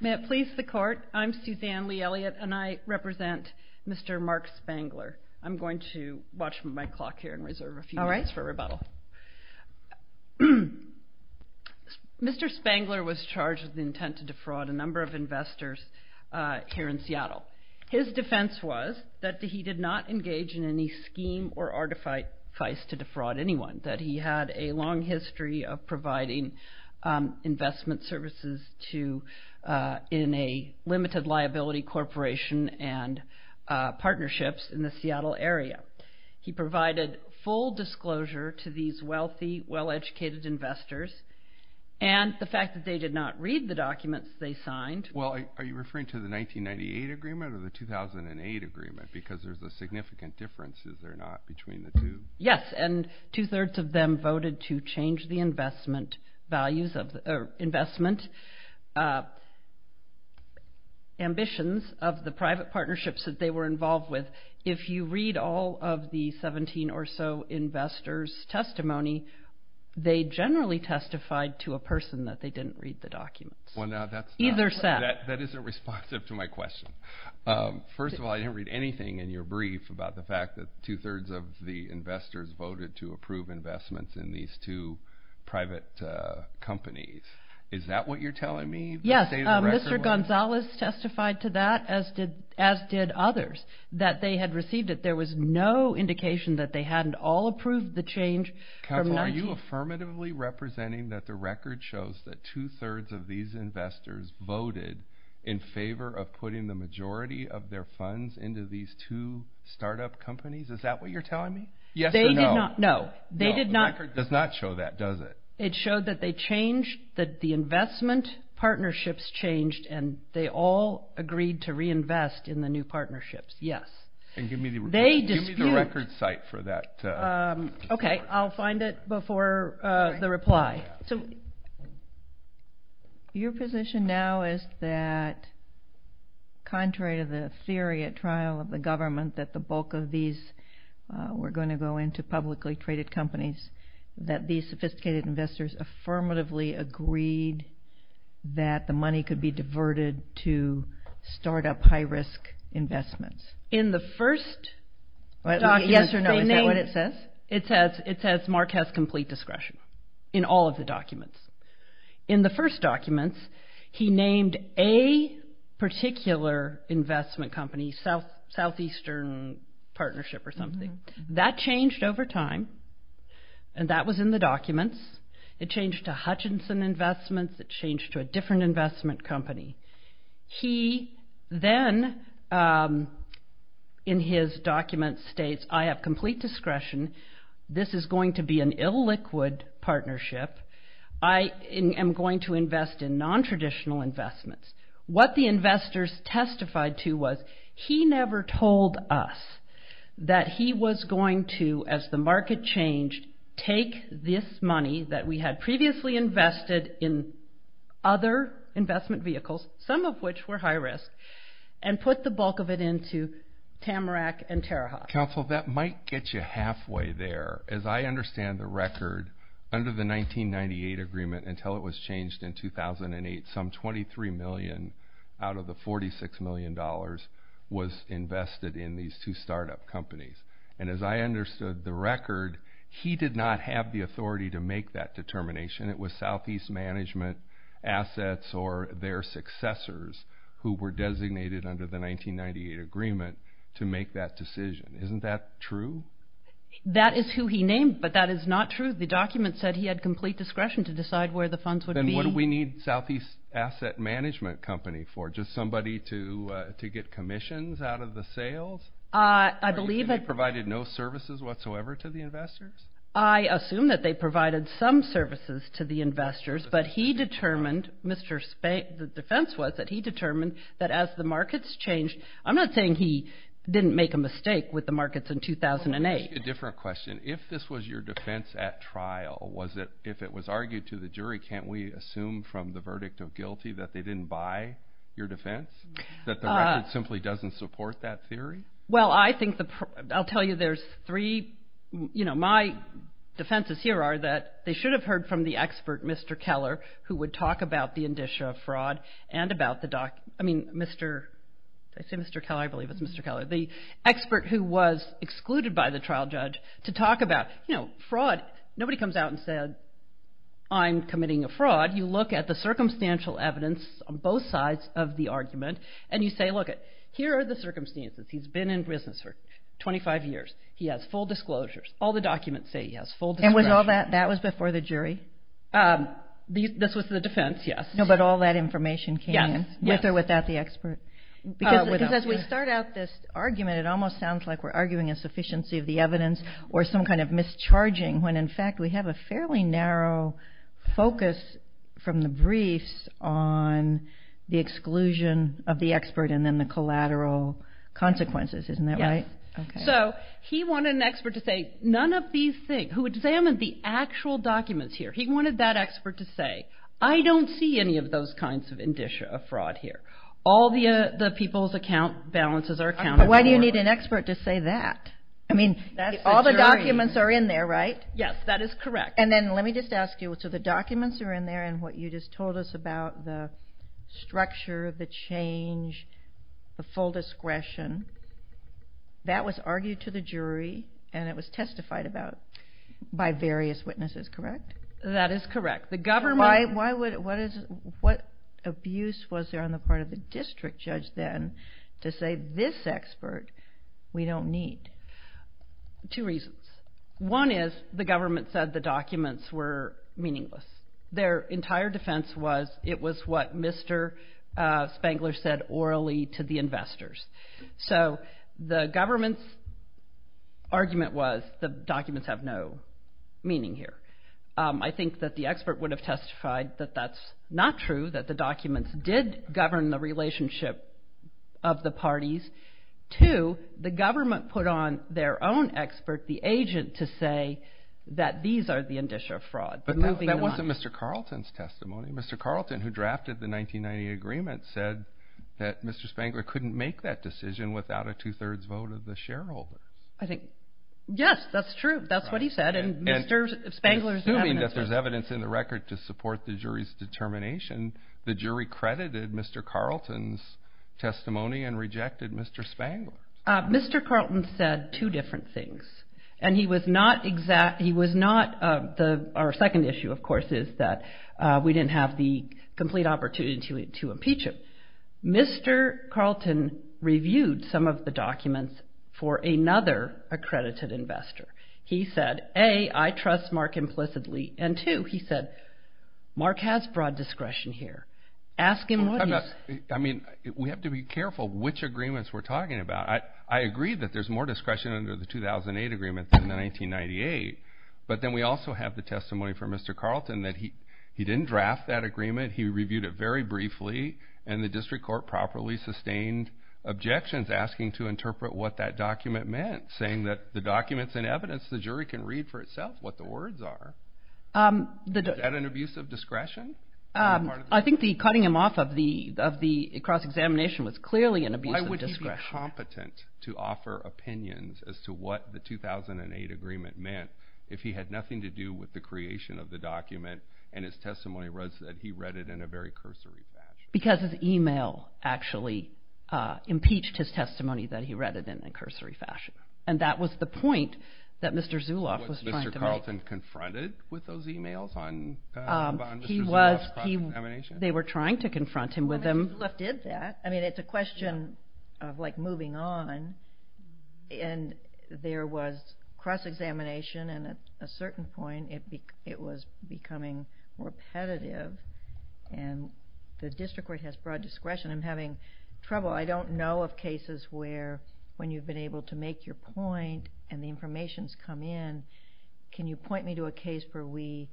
May it please the court, I'm Suzanne Lee Elliott and I represent Mr. Mark Spangler. I'm going to watch my clock here and reserve a few minutes for rebuttal. Mr. Spangler was charged with the intent to defraud a number of investors here in Seattle. His defense was that he did not engage in any scheme or artifice to defraud anyone, that he had a long history of providing investment services in a limited liability corporation and partnerships in the Seattle area. He provided full disclosure to these wealthy, well-educated investors and the fact that they did not read the documents they signed. Well, are you referring to the 1998 agreement or the 2008 agreement because there's a significant difference, is there not, between the two? Yes, and two-thirds of them voted to change the investment values of, or investment ambitions of the private partnerships that they were involved with. If you read all of the 17 or so investors' testimony, they generally testified to a person that they didn't read the documents. Well, now that's not, that isn't responsive to my question. First of all, I didn't read anything in your brief about the fact that the investors voted to approve investments in these two private companies. Is that what you're telling me? Yes, Mr. Gonzalez testified to that, as did others, that they had received it. There was no indication that they hadn't all approved the change. Counsel, are you affirmatively representing that the record shows that two-thirds of these investors voted in favor of putting the majority of their funds into these two startup companies? Is that what you're telling me? Yes or no? They did not, no. No, the record does not show that, does it? It showed that they changed, that the investment partnerships changed and they all agreed to reinvest in the new partnerships, yes. Give me the record site for that. Okay, I'll find it before the reply. Okay, so your position now is that contrary to the theory at trial of the government that the bulk of these were going to go into publicly traded companies, that these sophisticated investors affirmatively agreed that the money could be diverted to startup high-risk investments. In the first document, they named- Yes or no, is that what it says? It says Mark has complete discretion in all of the documents. In the first documents, he named a particular investment company, Southeastern Partnership or something. That changed over time, and that was in the documents. It changed to Hutchinson Investments. It changed to a different investment company. He then, in his document, states, I have complete discretion. This is going to be an illiquid partnership. I am going to invest in nontraditional investments. What the investors testified to was he never told us that he was going to, as the market changed, take this money that we had previously invested in other investment vehicles, some of which were high-risk, and put the bulk of it into Tamarack and Terre Haute. Counsel, that might get you halfway there. As I understand the record, under the 1998 agreement until it was changed in 2008, some $23 million out of the $46 million was invested in these two startup companies. As I understood the record, he did not have the authority to make that determination. It was Southeast Management Assets or their successors who were designated under the 1998 agreement to make that decision. Isn't that true? That is who he named, but that is not true. The document said he had complete discretion to decide where the funds would be. Then what do we need Southeast Asset Management Company for? Just somebody to get commissions out of the sales? I believe it. They provided no services whatsoever to the investors? I assume that they provided some services to the investors, but he determined, the defense was that he determined that as the markets changed. I'm not saying he didn't make a mistake with the markets in 2008. Let me ask you a different question. If this was your defense at trial, if it was argued to the jury, can't we assume from the verdict of guilty that they didn't buy your defense, that the record simply doesn't support that theory? Well, I'll tell you there's three. My defenses here are that they should have heard from the expert, Mr. Keller, who would talk about the indicia of fraud and about the document. Did I say Mr. Keller? I believe it's Mr. Keller. The expert who was excluded by the trial judge to talk about fraud. Nobody comes out and says, I'm committing a fraud. You look at the circumstantial evidence on both sides of the argument, and you say, look, here are the circumstances. He's been in business for 25 years. He has full disclosures. All the documents say he has full disclosures. And that was before the jury? This was the defense, yes. But all that information came in with or without the expert? Because as we start out this argument, it almost sounds like we're arguing a sufficiency of the evidence or some kind of mischarging when, in fact, we have a fairly narrow focus from the briefs on the exclusion of the expert and then the collateral consequences. Isn't that right? Yes. So he wanted an expert to say, none of these things. Who examined the actual documents here, he wanted that expert to say, I don't see any of those kinds of indicia of fraud here. All the people's account balances are accounted for. Why do you need an expert to say that? I mean, all the documents are in there, right? Yes, that is correct. And then let me just ask you, so the documents are in there, and what you just told us about the structure of the change, the full discretion, that was argued to the jury and it was testified about by various witnesses, correct? That is correct. What abuse was there on the part of the district judge then to say this expert we don't need? Two reasons. One is the government said the documents were meaningless. Their entire defense was it was what Mr. Spangler said orally to the investors. So the government's argument was the documents have no meaning here. I think that the expert would have testified that that's not true, that the documents did govern the relationship of the parties. Two, the government put on their own expert, the agent, to say that these are the indicia of fraud. But that wasn't Mr. Carlton's testimony. Mr. Carlton, who drafted the 1990 agreement, said that Mr. Spangler couldn't make that decision without a two-thirds vote of the shareholders. Yes, that's true. That's what he said, and Mr. Spangler's evidence is. Assuming that there's evidence in the record to support the jury's determination, the jury credited Mr. Carlton's testimony and rejected Mr. Spangler's. Mr. Carlton said two different things, and he was not exact, he was not, our second issue, of course, is that we didn't have the complete opportunity to impeach him. Mr. Carlton reviewed some of the documents for another accredited investor. He said, A, I trust Mark implicitly, and two, he said, Mark has broad discretion here. Ask him what he's. I mean, we have to be careful which agreements we're talking about. I agree that there's more discretion under the 2008 agreement than the 1998, but then we also have the testimony from Mr. Carlton that he didn't draft that agreement, he reviewed it very briefly, and the district court properly sustained objections asking to interpret what that document meant, saying that the documents and evidence, the jury can read for itself what the words are. Is that an abuse of discretion? I think the cutting him off of the cross-examination was clearly an abuse of discretion. He was not competent to offer opinions as to what the 2008 agreement meant if he had nothing to do with the creation of the document and his testimony was that he read it in a very cursory fashion. Because his email actually impeached his testimony that he read it in a cursory fashion, and that was the point that Mr. Zuloff was trying to make. Was Mr. Carlton confronted with those emails on Mr. Zuloff's cross-examination? They were trying to confront him with them. Zuloff did that. I mean, it's a question of, like, moving on. And there was cross-examination, and at a certain point it was becoming repetitive, and the district court has broad discretion. I'm having trouble. I don't know of cases where when you've been able to make your point and the information's come in, can you point me to a case where we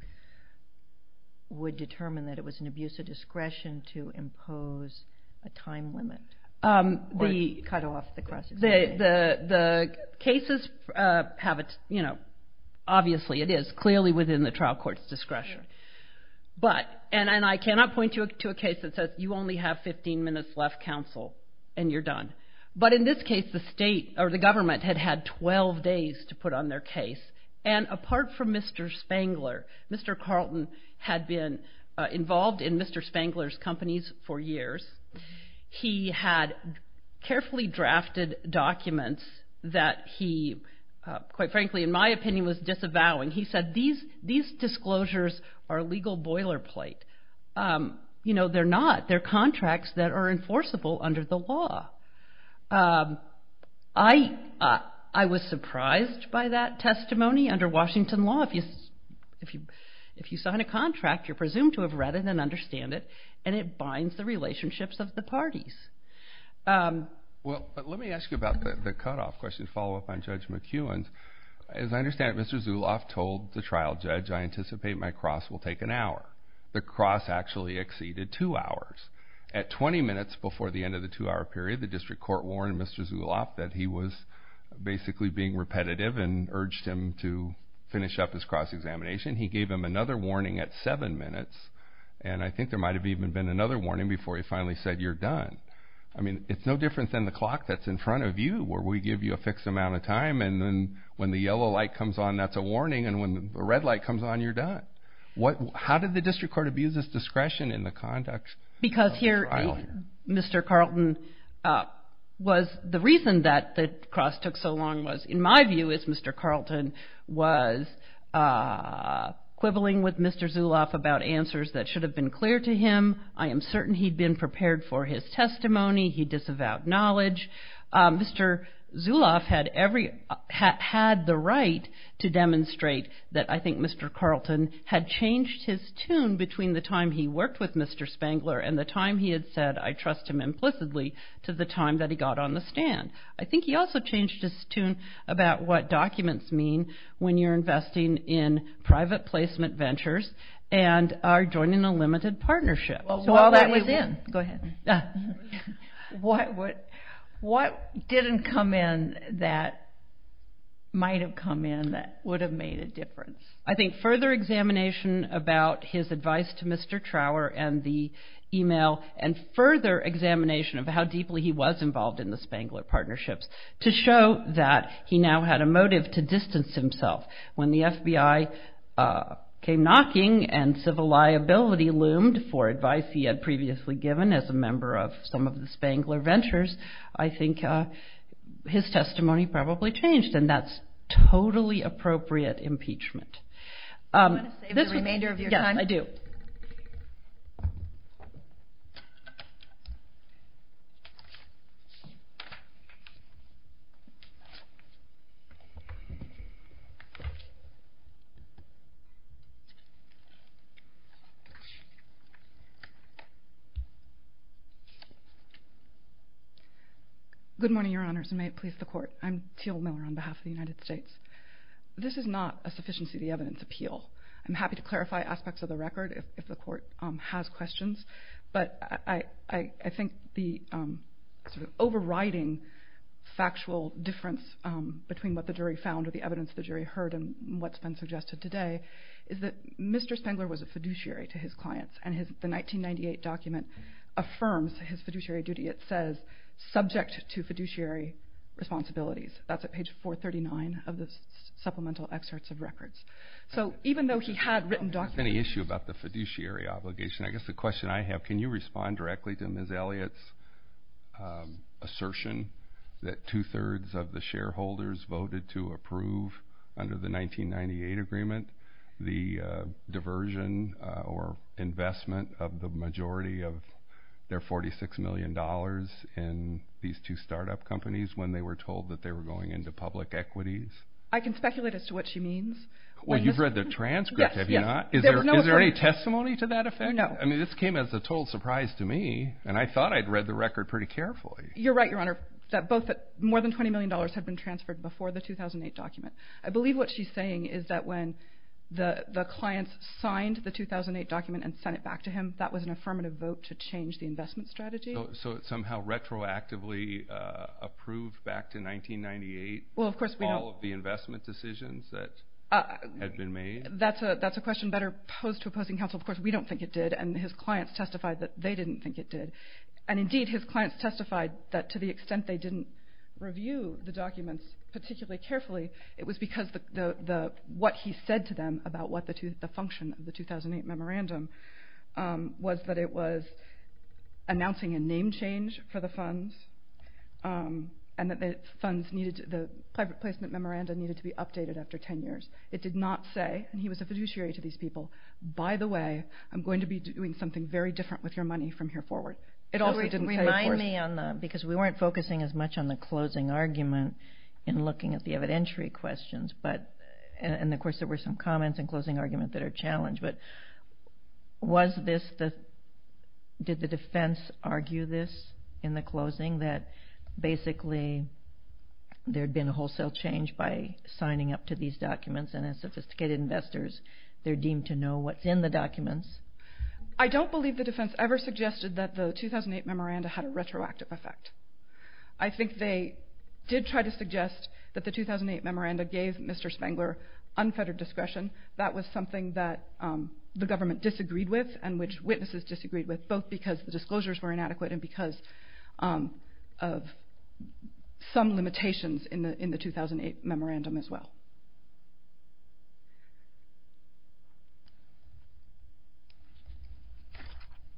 would determine that it was an abuse of discretion to impose a time limit or cut off the cross-examination? The cases have a, you know, obviously it is clearly within the trial court's discretion. And I cannot point you to a case that says you only have 15 minutes left, counsel, and you're done. But in this case, the government had had 12 days to put on their case, and apart from Mr. Spangler, Mr. Carlton had been involved in Mr. Spangler's companies for years. He had carefully drafted documents that he, quite frankly, in my opinion, was disavowing. He said these disclosures are legal boilerplate. You know, they're not. They're contracts that are enforceable under the law. I was surprised by that testimony. Under Washington law, if you sign a contract, you're presumed to have read it and understand it, and it binds the relationships of the parties. Well, let me ask you about the cutoff question to follow up on Judge McEwen's. As I understand it, Mr. Zuloff told the trial judge, I anticipate my cross will take an hour. The cross actually exceeded two hours. At 20 minutes before the end of the two-hour period, the district court warned Mr. Zuloff that he was basically being repetitive and urged him to finish up his cross examination. He gave him another warning at seven minutes, and I think there might have even been another warning before he finally said, you're done. I mean, it's no different than the clock that's in front of you where we give you a fixed amount of time, and then when the yellow light comes on, that's a warning, and when the red light comes on, you're done. How did the district court abuse this discretion in the conduct of the trial here? Because here, Mr. Carlton was the reason that the cross took so long was, in my view, as Mr. Carlton was quibbling with Mr. Zuloff about answers that should have been clear to him. I am certain he'd been prepared for his testimony. He disavowed knowledge. Mr. Zuloff had the right to demonstrate that I think Mr. Carlton had changed his tune between the time he worked with Mr. Spangler and the time he had said, I trust him implicitly, to the time that he got on the stand. I think he also changed his tune about what documents mean when you're investing in private placement ventures and are joining a limited partnership. So all that was in. Go ahead. What didn't come in that might have come in that would have made a difference? I think further examination about his advice to Mr. Trower and the e-mail and further examination of how deeply he was involved in the Spangler partnerships to show that he now had a motive to distance himself. When the FBI came knocking and civil liability loomed for advice he had previously given as a member of some of the Spangler ventures, I think his testimony probably changed and that's totally appropriate impeachment. Do you want to save the remainder of your time? Yes, I do. Good morning, Your Honors, and may it please the Court. I'm Teal Miller on behalf of the United States. This is not a sufficiency of the evidence appeal. I'm happy to clarify aspects of the record if the Court has questions, but I think the sort of overriding factual difference between what the jury found or the evidence the jury heard and what's been suggested today is that Mr. Spangler was a fiduciary to his clients and the 1998 document affirms his fiduciary duty. It says, subject to fiduciary responsibilities. That's at page 439 of the supplemental excerpts of records. So even though he had written documents... Do you have any issue about the fiduciary obligation? I guess the question I have, can you respond directly to Ms. Elliott's assertion that two-thirds of the shareholders voted to approve under the 1998 agreement the diversion or investment of the majority of their $46 million in these two startup companies when they were told that they were going into public equities? I can speculate as to what she means. Well, you've read the transcript, have you not? Is there any testimony to that effect? No. I mean, this came as a total surprise to me, and I thought I'd read the record pretty carefully. You're right, Your Honor, that more than $20 million had been transferred before the 2008 document. I believe what she's saying is that when the clients signed the 2008 document and sent it back to him, that was an affirmative vote to change the investment strategy. So it's somehow retroactively approved back to 1998? Well, of course, we don't... All of the investment decisions that had been made? That's a question better posed to opposing counsel. Of course, we don't think it did, and his clients testified that they didn't think it did. And indeed, his clients testified that to the extent they didn't review the documents particularly carefully, it was because what he said to them about what the function of the 2008 memorandum was that it was announcing a name change for the funds and that the funds needed to... the placement memorandum needed to be updated after 10 years. It did not say, and he was a fiduciary to these people, by the way, I'm going to be doing something very different with your money from here forward. It also didn't say, of course... Remind me on the... because we weren't focusing as much on the closing argument in looking at the evidentiary questions, and of course there were some comments in closing argument that are challenged, but was this the... did the defense argue this in the closing that basically there had been a wholesale change by signing up to these documents and as sophisticated investors, they're deemed to know what's in the documents? I don't believe the defense ever suggested that the 2008 memorandum had a retroactive effect. I think they did try to suggest that the 2008 memorandum gave Mr. Spengler unfettered discretion. That was something that the government disagreed with and which witnesses disagreed with, both because the disclosures were inadequate and because of some limitations in the 2008 memorandum as well.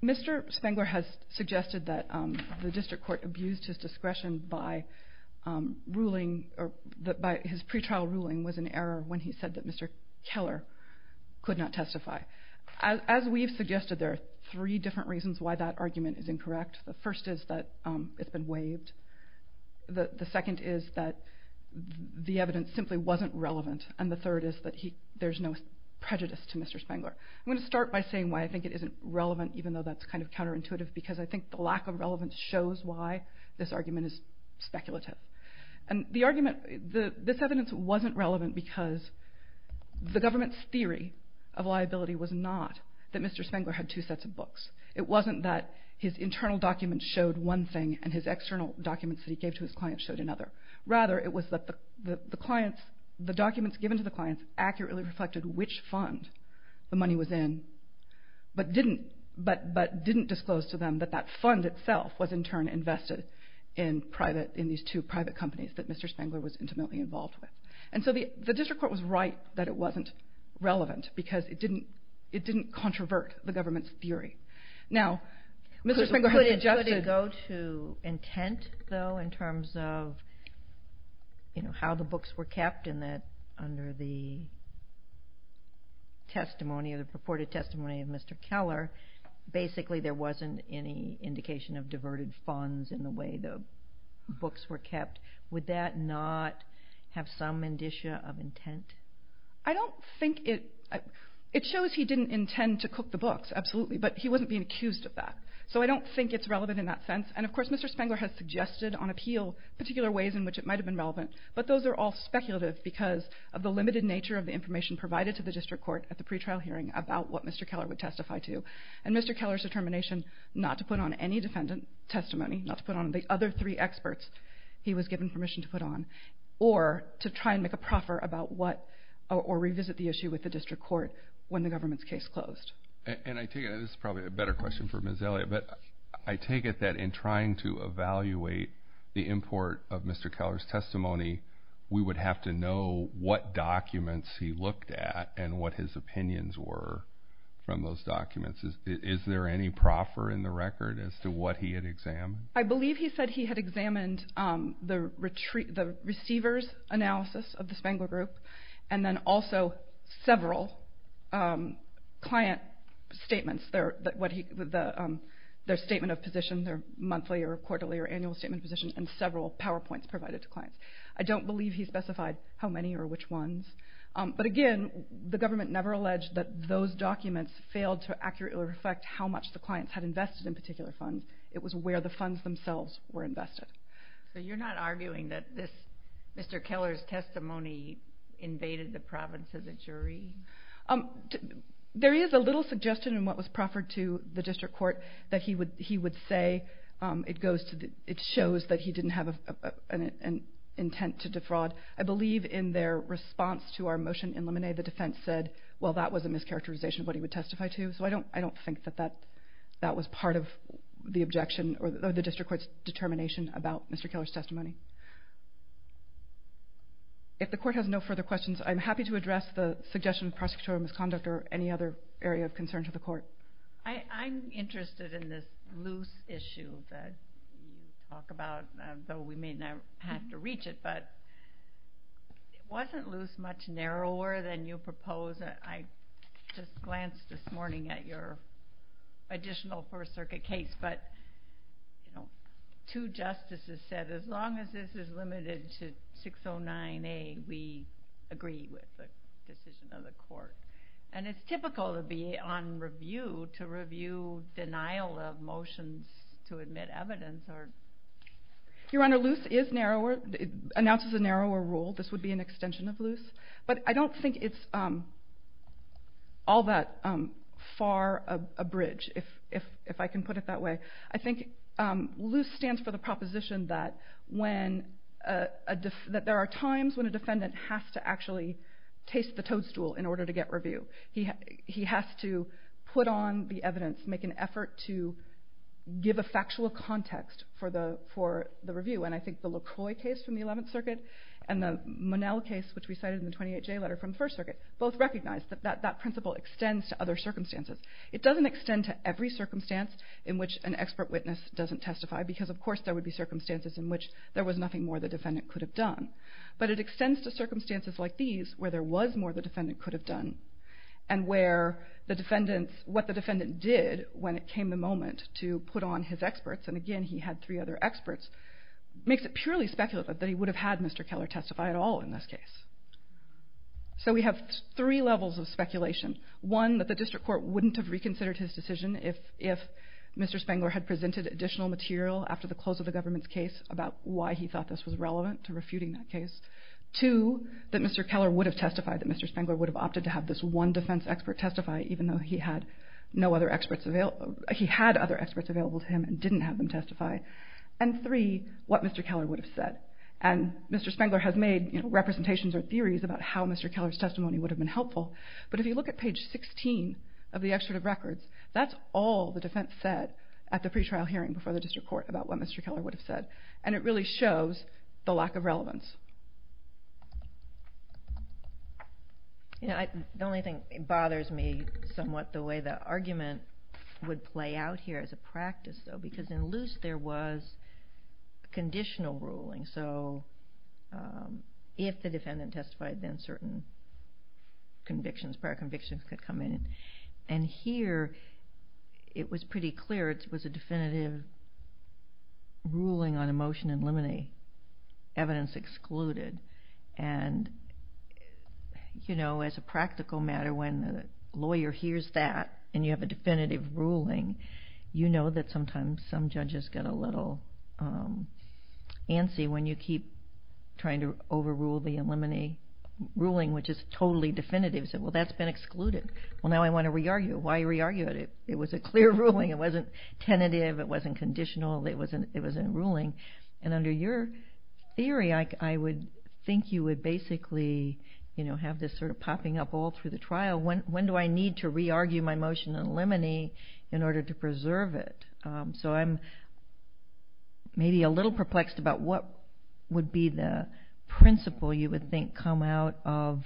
Mr. Spengler has suggested that the district court abused his discretion by ruling... that Mr. Keller could not testify. As we've suggested, there are three different reasons why that argument is incorrect. The first is that it's been waived. The second is that the evidence simply wasn't relevant. And the third is that there's no prejudice to Mr. Spengler. I'm going to start by saying why I think it isn't relevant, even though that's kind of counterintuitive, because I think the lack of relevance shows why this argument is speculative. This evidence wasn't relevant because the government's theory of liability was not that Mr. Spengler had two sets of books. It wasn't that his internal documents showed one thing and his external documents that he gave to his clients showed another. Rather, it was that the documents given to the clients accurately reflected which fund the money was in, but didn't disclose to them that that fund itself was in turn invested in these two private companies that Mr. Spengler was intimately involved with. And so the district court was right that it wasn't relevant because it didn't controvert the government's theory. Now, Mr. Spengler had suggested... Could it go to intent, though, in terms of how the books were kept and that under the testimony or the purported testimony of Mr. Keller, basically there wasn't any indication of diverted funds in the way the books were kept. Would that not have some indicia of intent? I don't think it... It shows he didn't intend to cook the books, absolutely, but he wasn't being accused of that. So I don't think it's relevant in that sense. And, of course, Mr. Spengler has suggested on appeal particular ways in which it might have been relevant, but those are all speculative because of the limited nature of the information provided to the district court at the pretrial hearing about what Mr. Keller would testify to. And Mr. Keller's determination not to put on any defendant testimony, not to put on the other three experts he was given permission to put on, or to try and make a proffer about what... or revisit the issue with the district court when the government's case closed. And I take it... This is probably a better question for Ms. Elliott, but I take it that in trying to evaluate the import of Mr. Keller's testimony, we would have to know what documents he looked at and what his opinions were from those documents. Is there any proffer in the record as to what he had examined? I believe he said he had examined the receiver's analysis of the Spengler group and then also several client statements, their statement of position, their monthly or quarterly or annual statement of position, and several PowerPoints provided to clients. I don't believe he specified how many or which ones. But again, the government never alleged that those documents failed to accurately reflect how much the clients had invested in particular funds. It was where the funds themselves were invested. So you're not arguing that Mr. Keller's testimony invaded the province as a jury? There is a little suggestion in what was proffered to the district court that he would say it goes to... It shows that he didn't have an intent to defraud. I believe in their response to our motion in Lemonnier, the defense said, well, that was a mischaracterization of what he would testify to. So I don't think that that was part of the objection or the district court's determination about Mr. Keller's testimony. If the court has no further questions, I'm happy to address the suggestion of prosecutorial misconduct or any other area of concern to the court. I'm interested in this loose issue that you talk about, though we may not have to reach it, but it wasn't loose much narrower than you propose. I just glanced this morning at your additional First Circuit case, but two justices said as long as this is limited to 609A, we agree with the decision of the court. And it's typical to be on review to review denial of motions to admit evidence Your Honor, loose announces a narrower rule. This would be an extension of loose. But I don't think it's all that far a bridge, if I can put it that way. I think loose stands for the proposition that there are times when a defendant has to actually taste the toadstool in order to get review. He has to put on the evidence, make an effort to give a factual context for the review. And I think the LaCroix case from the 11th Circuit and the Monell case which we cited in the 28J letter from the First Circuit both recognize that that principle extends to other circumstances. It doesn't extend to every circumstance in which an expert witness doesn't testify because of course there would be circumstances in which there was nothing more the defendant could have done. But it extends to circumstances like these where there was more the defendant could have done and where what the defendant did when it came the moment to put on his experts, and again he had three other experts, makes it purely speculative that he would have had Mr. Keller testify at all in this case. So we have three levels of speculation. One, that the District Court wouldn't have reconsidered his decision if Mr. Spangler had presented additional material after the close of the government's case about why he thought this was relevant to refuting that case. Two, that Mr. Keller would have testified that Mr. Spangler would have opted to have this one defense expert testify even though he had other experts available to him and didn't have them testify. And three, what Mr. Keller would have said. And Mr. Spangler has made representations or theories about how Mr. Keller's testimony would have been helpful, but if you look at page 16 of the excerpt of records, that's all the defense said at the pretrial hearing before the District Court about what Mr. Keller would have said. And it really shows the lack of relevance. The only thing bothers me somewhat, the way the argument would play out here as a practice, though, because in Luce there was conditional ruling. So if the defendant testified, then certain convictions, prior convictions could come in. And here it was pretty clear it was a definitive ruling on emotion and limine. Evidence excluded. And, you know, as a practical matter, when a lawyer hears that and you have a definitive ruling, you know that sometimes some judges get a little antsy when you keep trying to overrule the limine ruling, which is totally definitive. Say, well, that's been excluded. Well, now I want to re-argue it. Why re-argue it? It was a clear ruling. It wasn't tentative. It wasn't conditional. It was a ruling. And under your theory, I would think you would basically, you know, have this sort of popping up all through the trial. When do I need to re-argue my motion on limine in order to preserve it? So I'm maybe a little perplexed about what would be the principle, you would think, come out of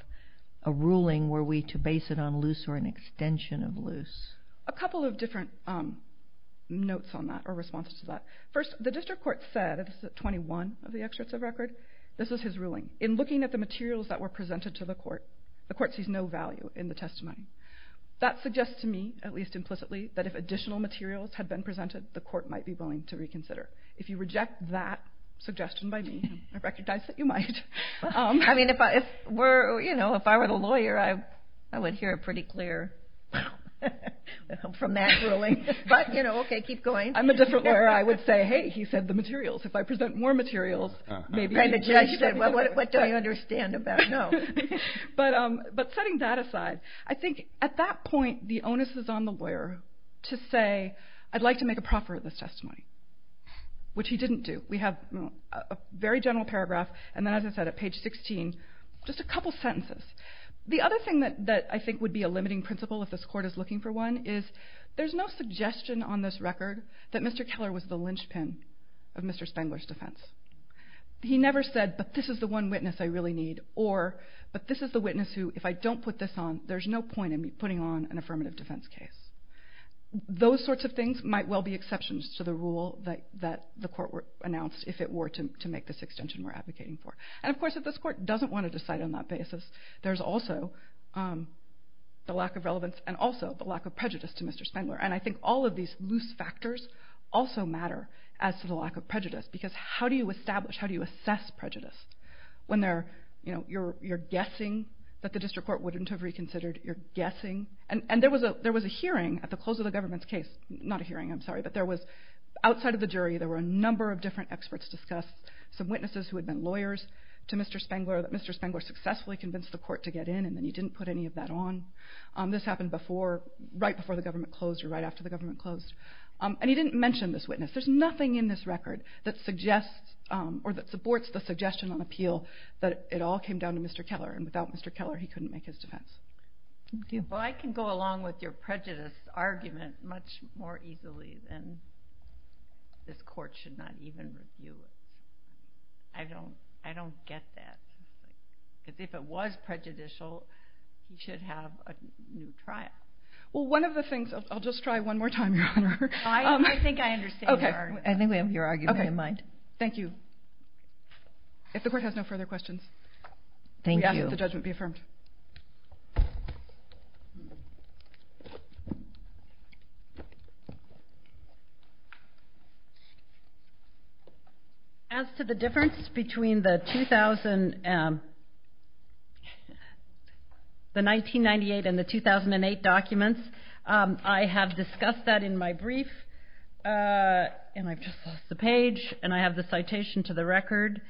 a ruling were we to base it on Luce or an extension of Luce. A couple of different notes on that or responses to that. First, the district court said, this is at 21 of the excerpts of record, this is his ruling. In looking at the materials that were presented to the court, the court sees no value in the testimony. That suggests to me, at least implicitly, that if additional materials had been presented, the court might be willing to reconsider. If you reject that suggestion by me, I recognize that you might. I mean, if I were, you know, if I were the lawyer, I would hear it pretty clear from that ruling. But, you know, okay, keep going. I'm a different lawyer. I would say, hey, he said the materials. If I present more materials, maybe he will. And the judge said, well, what don't you understand about, no. But setting that aside, I think at that point the onus is on the lawyer to say, I'd like to make a proffer of this testimony, which he didn't do. We have a very general paragraph, and then as I said, at page 16, just a couple sentences. The other thing that I think would be a limiting principle if this court is looking for one is there's no suggestion on this record that Mr. Keller was the linchpin of Mr. Spengler's defense. He never said, but this is the one witness I really need, or, but this is the witness who, if I don't put this on, there's no point in me putting on an affirmative defense case. Those sorts of things might well be exceptions to the rule that the court announced if it were to make this extension we're advocating for. And, of course, if this court doesn't want to decide on that basis, there's also the lack of relevance and also the lack of prejudice to Mr. Spengler. And I think all of these loose factors also matter as to the lack of prejudice, because how do you establish, how do you assess prejudice when you're guessing that the district court wouldn't have reconsidered, you're guessing? And there was a hearing at the close of the government's case, not a hearing, I'm sorry, but there was, outside of the jury there were a number of different experts discussed, some witnesses who had been lawyers to Mr. Spengler, that Mr. Spengler successfully convinced the court to get in, and then he didn't put any of that on. This happened right before the government closed or right after the government closed. And he didn't mention this witness. There's nothing in this record that supports the suggestion on appeal that it all came down to Mr. Keller, and without Mr. Keller he couldn't make his defense. Well, I can go along with your prejudice argument much more easily than this court should not even review it. I don't get that. Because if it was prejudicial, you should have a new trial. Well, one of the things, I'll just try one more time, Your Honor. I think I understand your argument. I think we have your argument in mind. Thank you. If the court has no further questions, we ask that the judgment be affirmed. Thank you. As to the difference between the 1998 and the 2008 documents, I have discussed that in my brief, and I've just lost the page, and I have the citation to the record,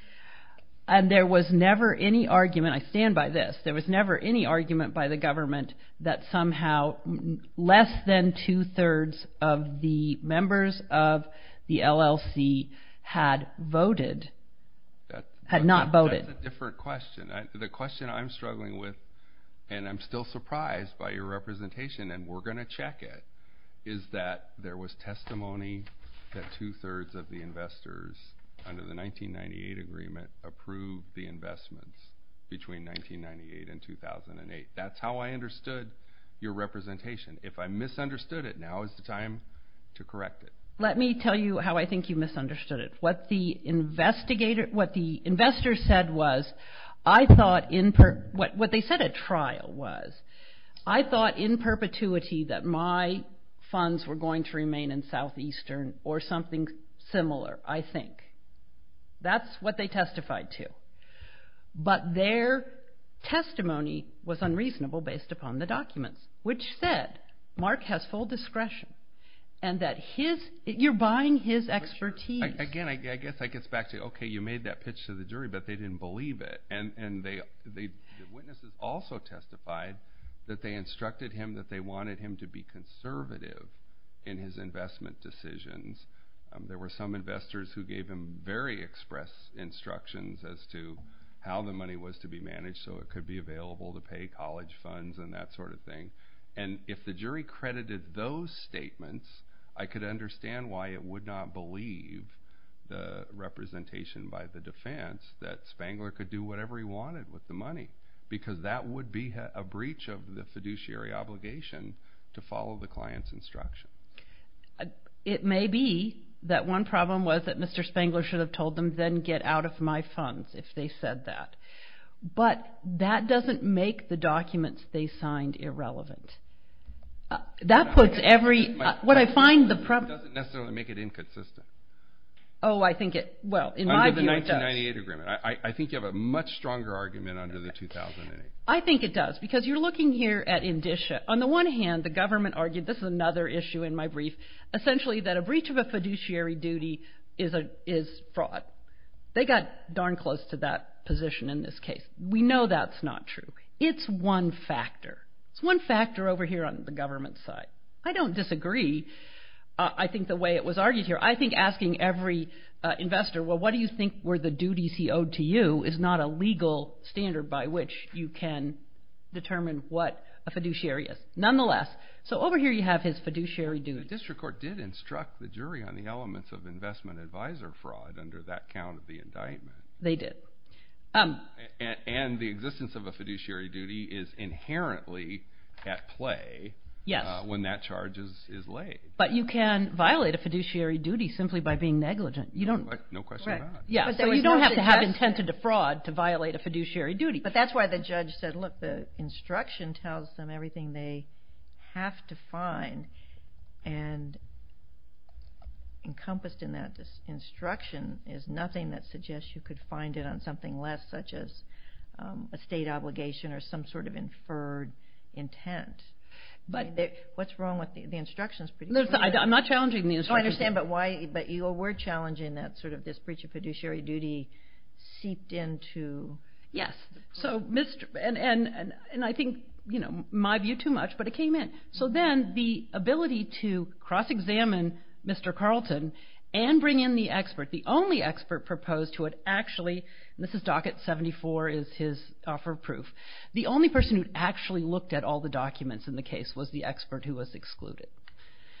and there was never any argument. I stand by this. There was never any argument by the government that somehow less than two-thirds of the members of the LLC had voted, had not voted. That's a different question. The question I'm struggling with, and I'm still surprised by your representation, and we're going to check it, is that there was testimony that two-thirds of the investors under the 1998 agreement approved the investments between 1998 and 2008. That's how I understood your representation. If I misunderstood it, now is the time to correct it. Let me tell you how I think you misunderstood it. What the investors said was, what they said at trial was, I thought in perpetuity that my funds were going to remain in Southeastern or something similar, I think. That's what they testified to. But their testimony was unreasonable based upon the documents, which said Mark has full discretion and that you're buying his expertise. Again, I guess it gets back to, okay, you made that pitch to the jury, but they didn't believe it, and the witnesses also testified that they instructed him and that they wanted him to be conservative in his investment decisions. There were some investors who gave him very express instructions as to how the money was to be managed so it could be available to pay college funds and that sort of thing. If the jury credited those statements, I could understand why it would not believe the representation by the defense that Spangler could do whatever he wanted with the money because that would be a breach of the fiduciary obligation to follow the client's instruction. It may be that one problem was that Mr. Spangler should have told them, then get out of my funds if they said that. But that doesn't make the documents they signed irrelevant. That puts every— It doesn't necessarily make it inconsistent. Oh, I think it—well, in my view it does. Under the 1998 agreement. I think you have a much stronger argument under the 2008. I think it does because you're looking here at indicia. On the one hand, the government argued—this is another issue in my brief— essentially that a breach of a fiduciary duty is fraud. They got darn close to that position in this case. We know that's not true. It's one factor. It's one factor over here on the government side. I don't disagree, I think, the way it was argued here. I think asking every investor, well, what do you think were the duties he owed to you, is not a legal standard by which you can determine what a fiduciary is. Nonetheless, so over here you have his fiduciary duty. The district court did instruct the jury on the elements of investment advisor fraud under that count of the indictment. They did. And the existence of a fiduciary duty is inherently at play when that charge is laid. But you can violate a fiduciary duty simply by being negligent. No question about it. You don't have to have intent to defraud to violate a fiduciary duty. But that's why the judge said, look, the instruction tells them everything they have to find, and encompassed in that instruction is nothing that suggests you could find it on something less, such as a state obligation or some sort of inferred intent. What's wrong with the instructions? I'm not challenging the instructions. I understand, but you were challenging that sort of this breach of fiduciary duty seeped into. Yes, and I think my view too much, but it came in. So then the ability to cross-examine Mr. Carlton and bring in the expert, the only expert proposed who had actually, and this is docket 74 is his offer of proof, the only person who actually looked at all the documents in the case was the expert who was excluded.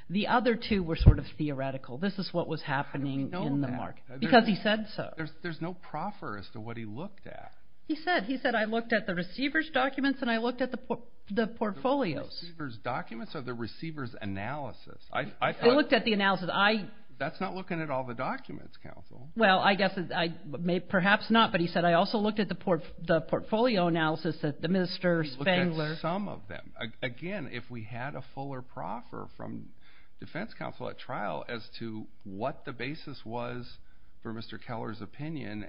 The other two were sort of theoretical. This is what was happening in the market because he said so. There's no proffer as to what he looked at. He said, he said, I looked at the receiver's documents and I looked at the portfolios. The receiver's documents or the receiver's analysis. I looked at the analysis. That's not looking at all the documents, counsel. Well, I guess perhaps not, but he said, I also looked at the portfolio analysis that the minister Spangler. He looked at some of them. Again, if we had a fuller proffer from defense counsel at trial as to what the basis was for Mr. Keller's opinion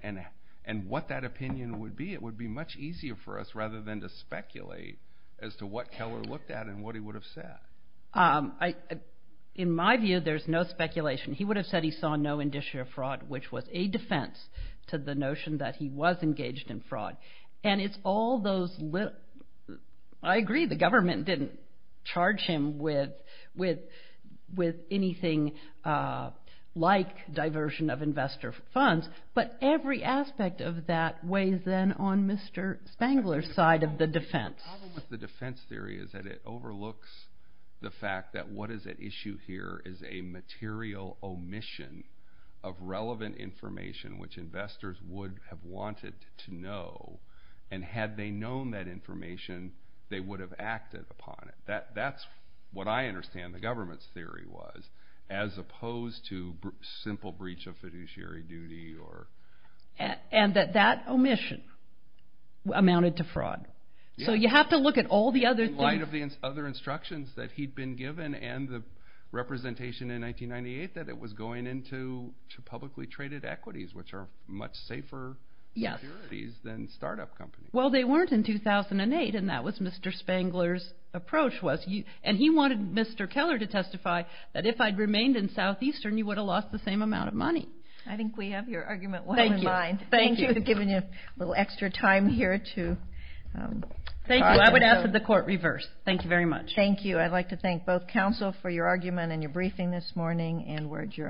and what that opinion would be, it would be much easier for us rather than to speculate as to what Keller looked at and what he would have said. In my view, there's no speculation. He would have said he saw no indicia of fraud, which was a defense to the notion that he was engaged in fraud. And it's all those little, I agree the government didn't charge him with anything like diversion of investor funds, but every aspect of that weighs in on Mr. Spangler's side of the defense. The problem with the defense theory is that it overlooks the fact that what is at issue here is a material omission of relevant information which investors would have wanted to know. And had they known that information, they would have acted upon it. That's what I understand the government's theory was as opposed to simple breach of fiduciary duty. So you have to look at all the other things. In light of the other instructions that he'd been given and the representation in 1998 that it was going into publicly traded equities, which are much safer securities than startup companies. Well, they weren't in 2008, and that was Mr. Spangler's approach. And he wanted Mr. Keller to testify that if I'd remained in Southeastern, you would have lost the same amount of money. I think we have your argument well in mind. Thank you. Thank you for giving me a little extra time here to talk. Thank you. I would ask that the court reverse. Thank you very much. Thank you. I'd like to thank both counsel for your argument and your briefing this morning, and we're adjourned.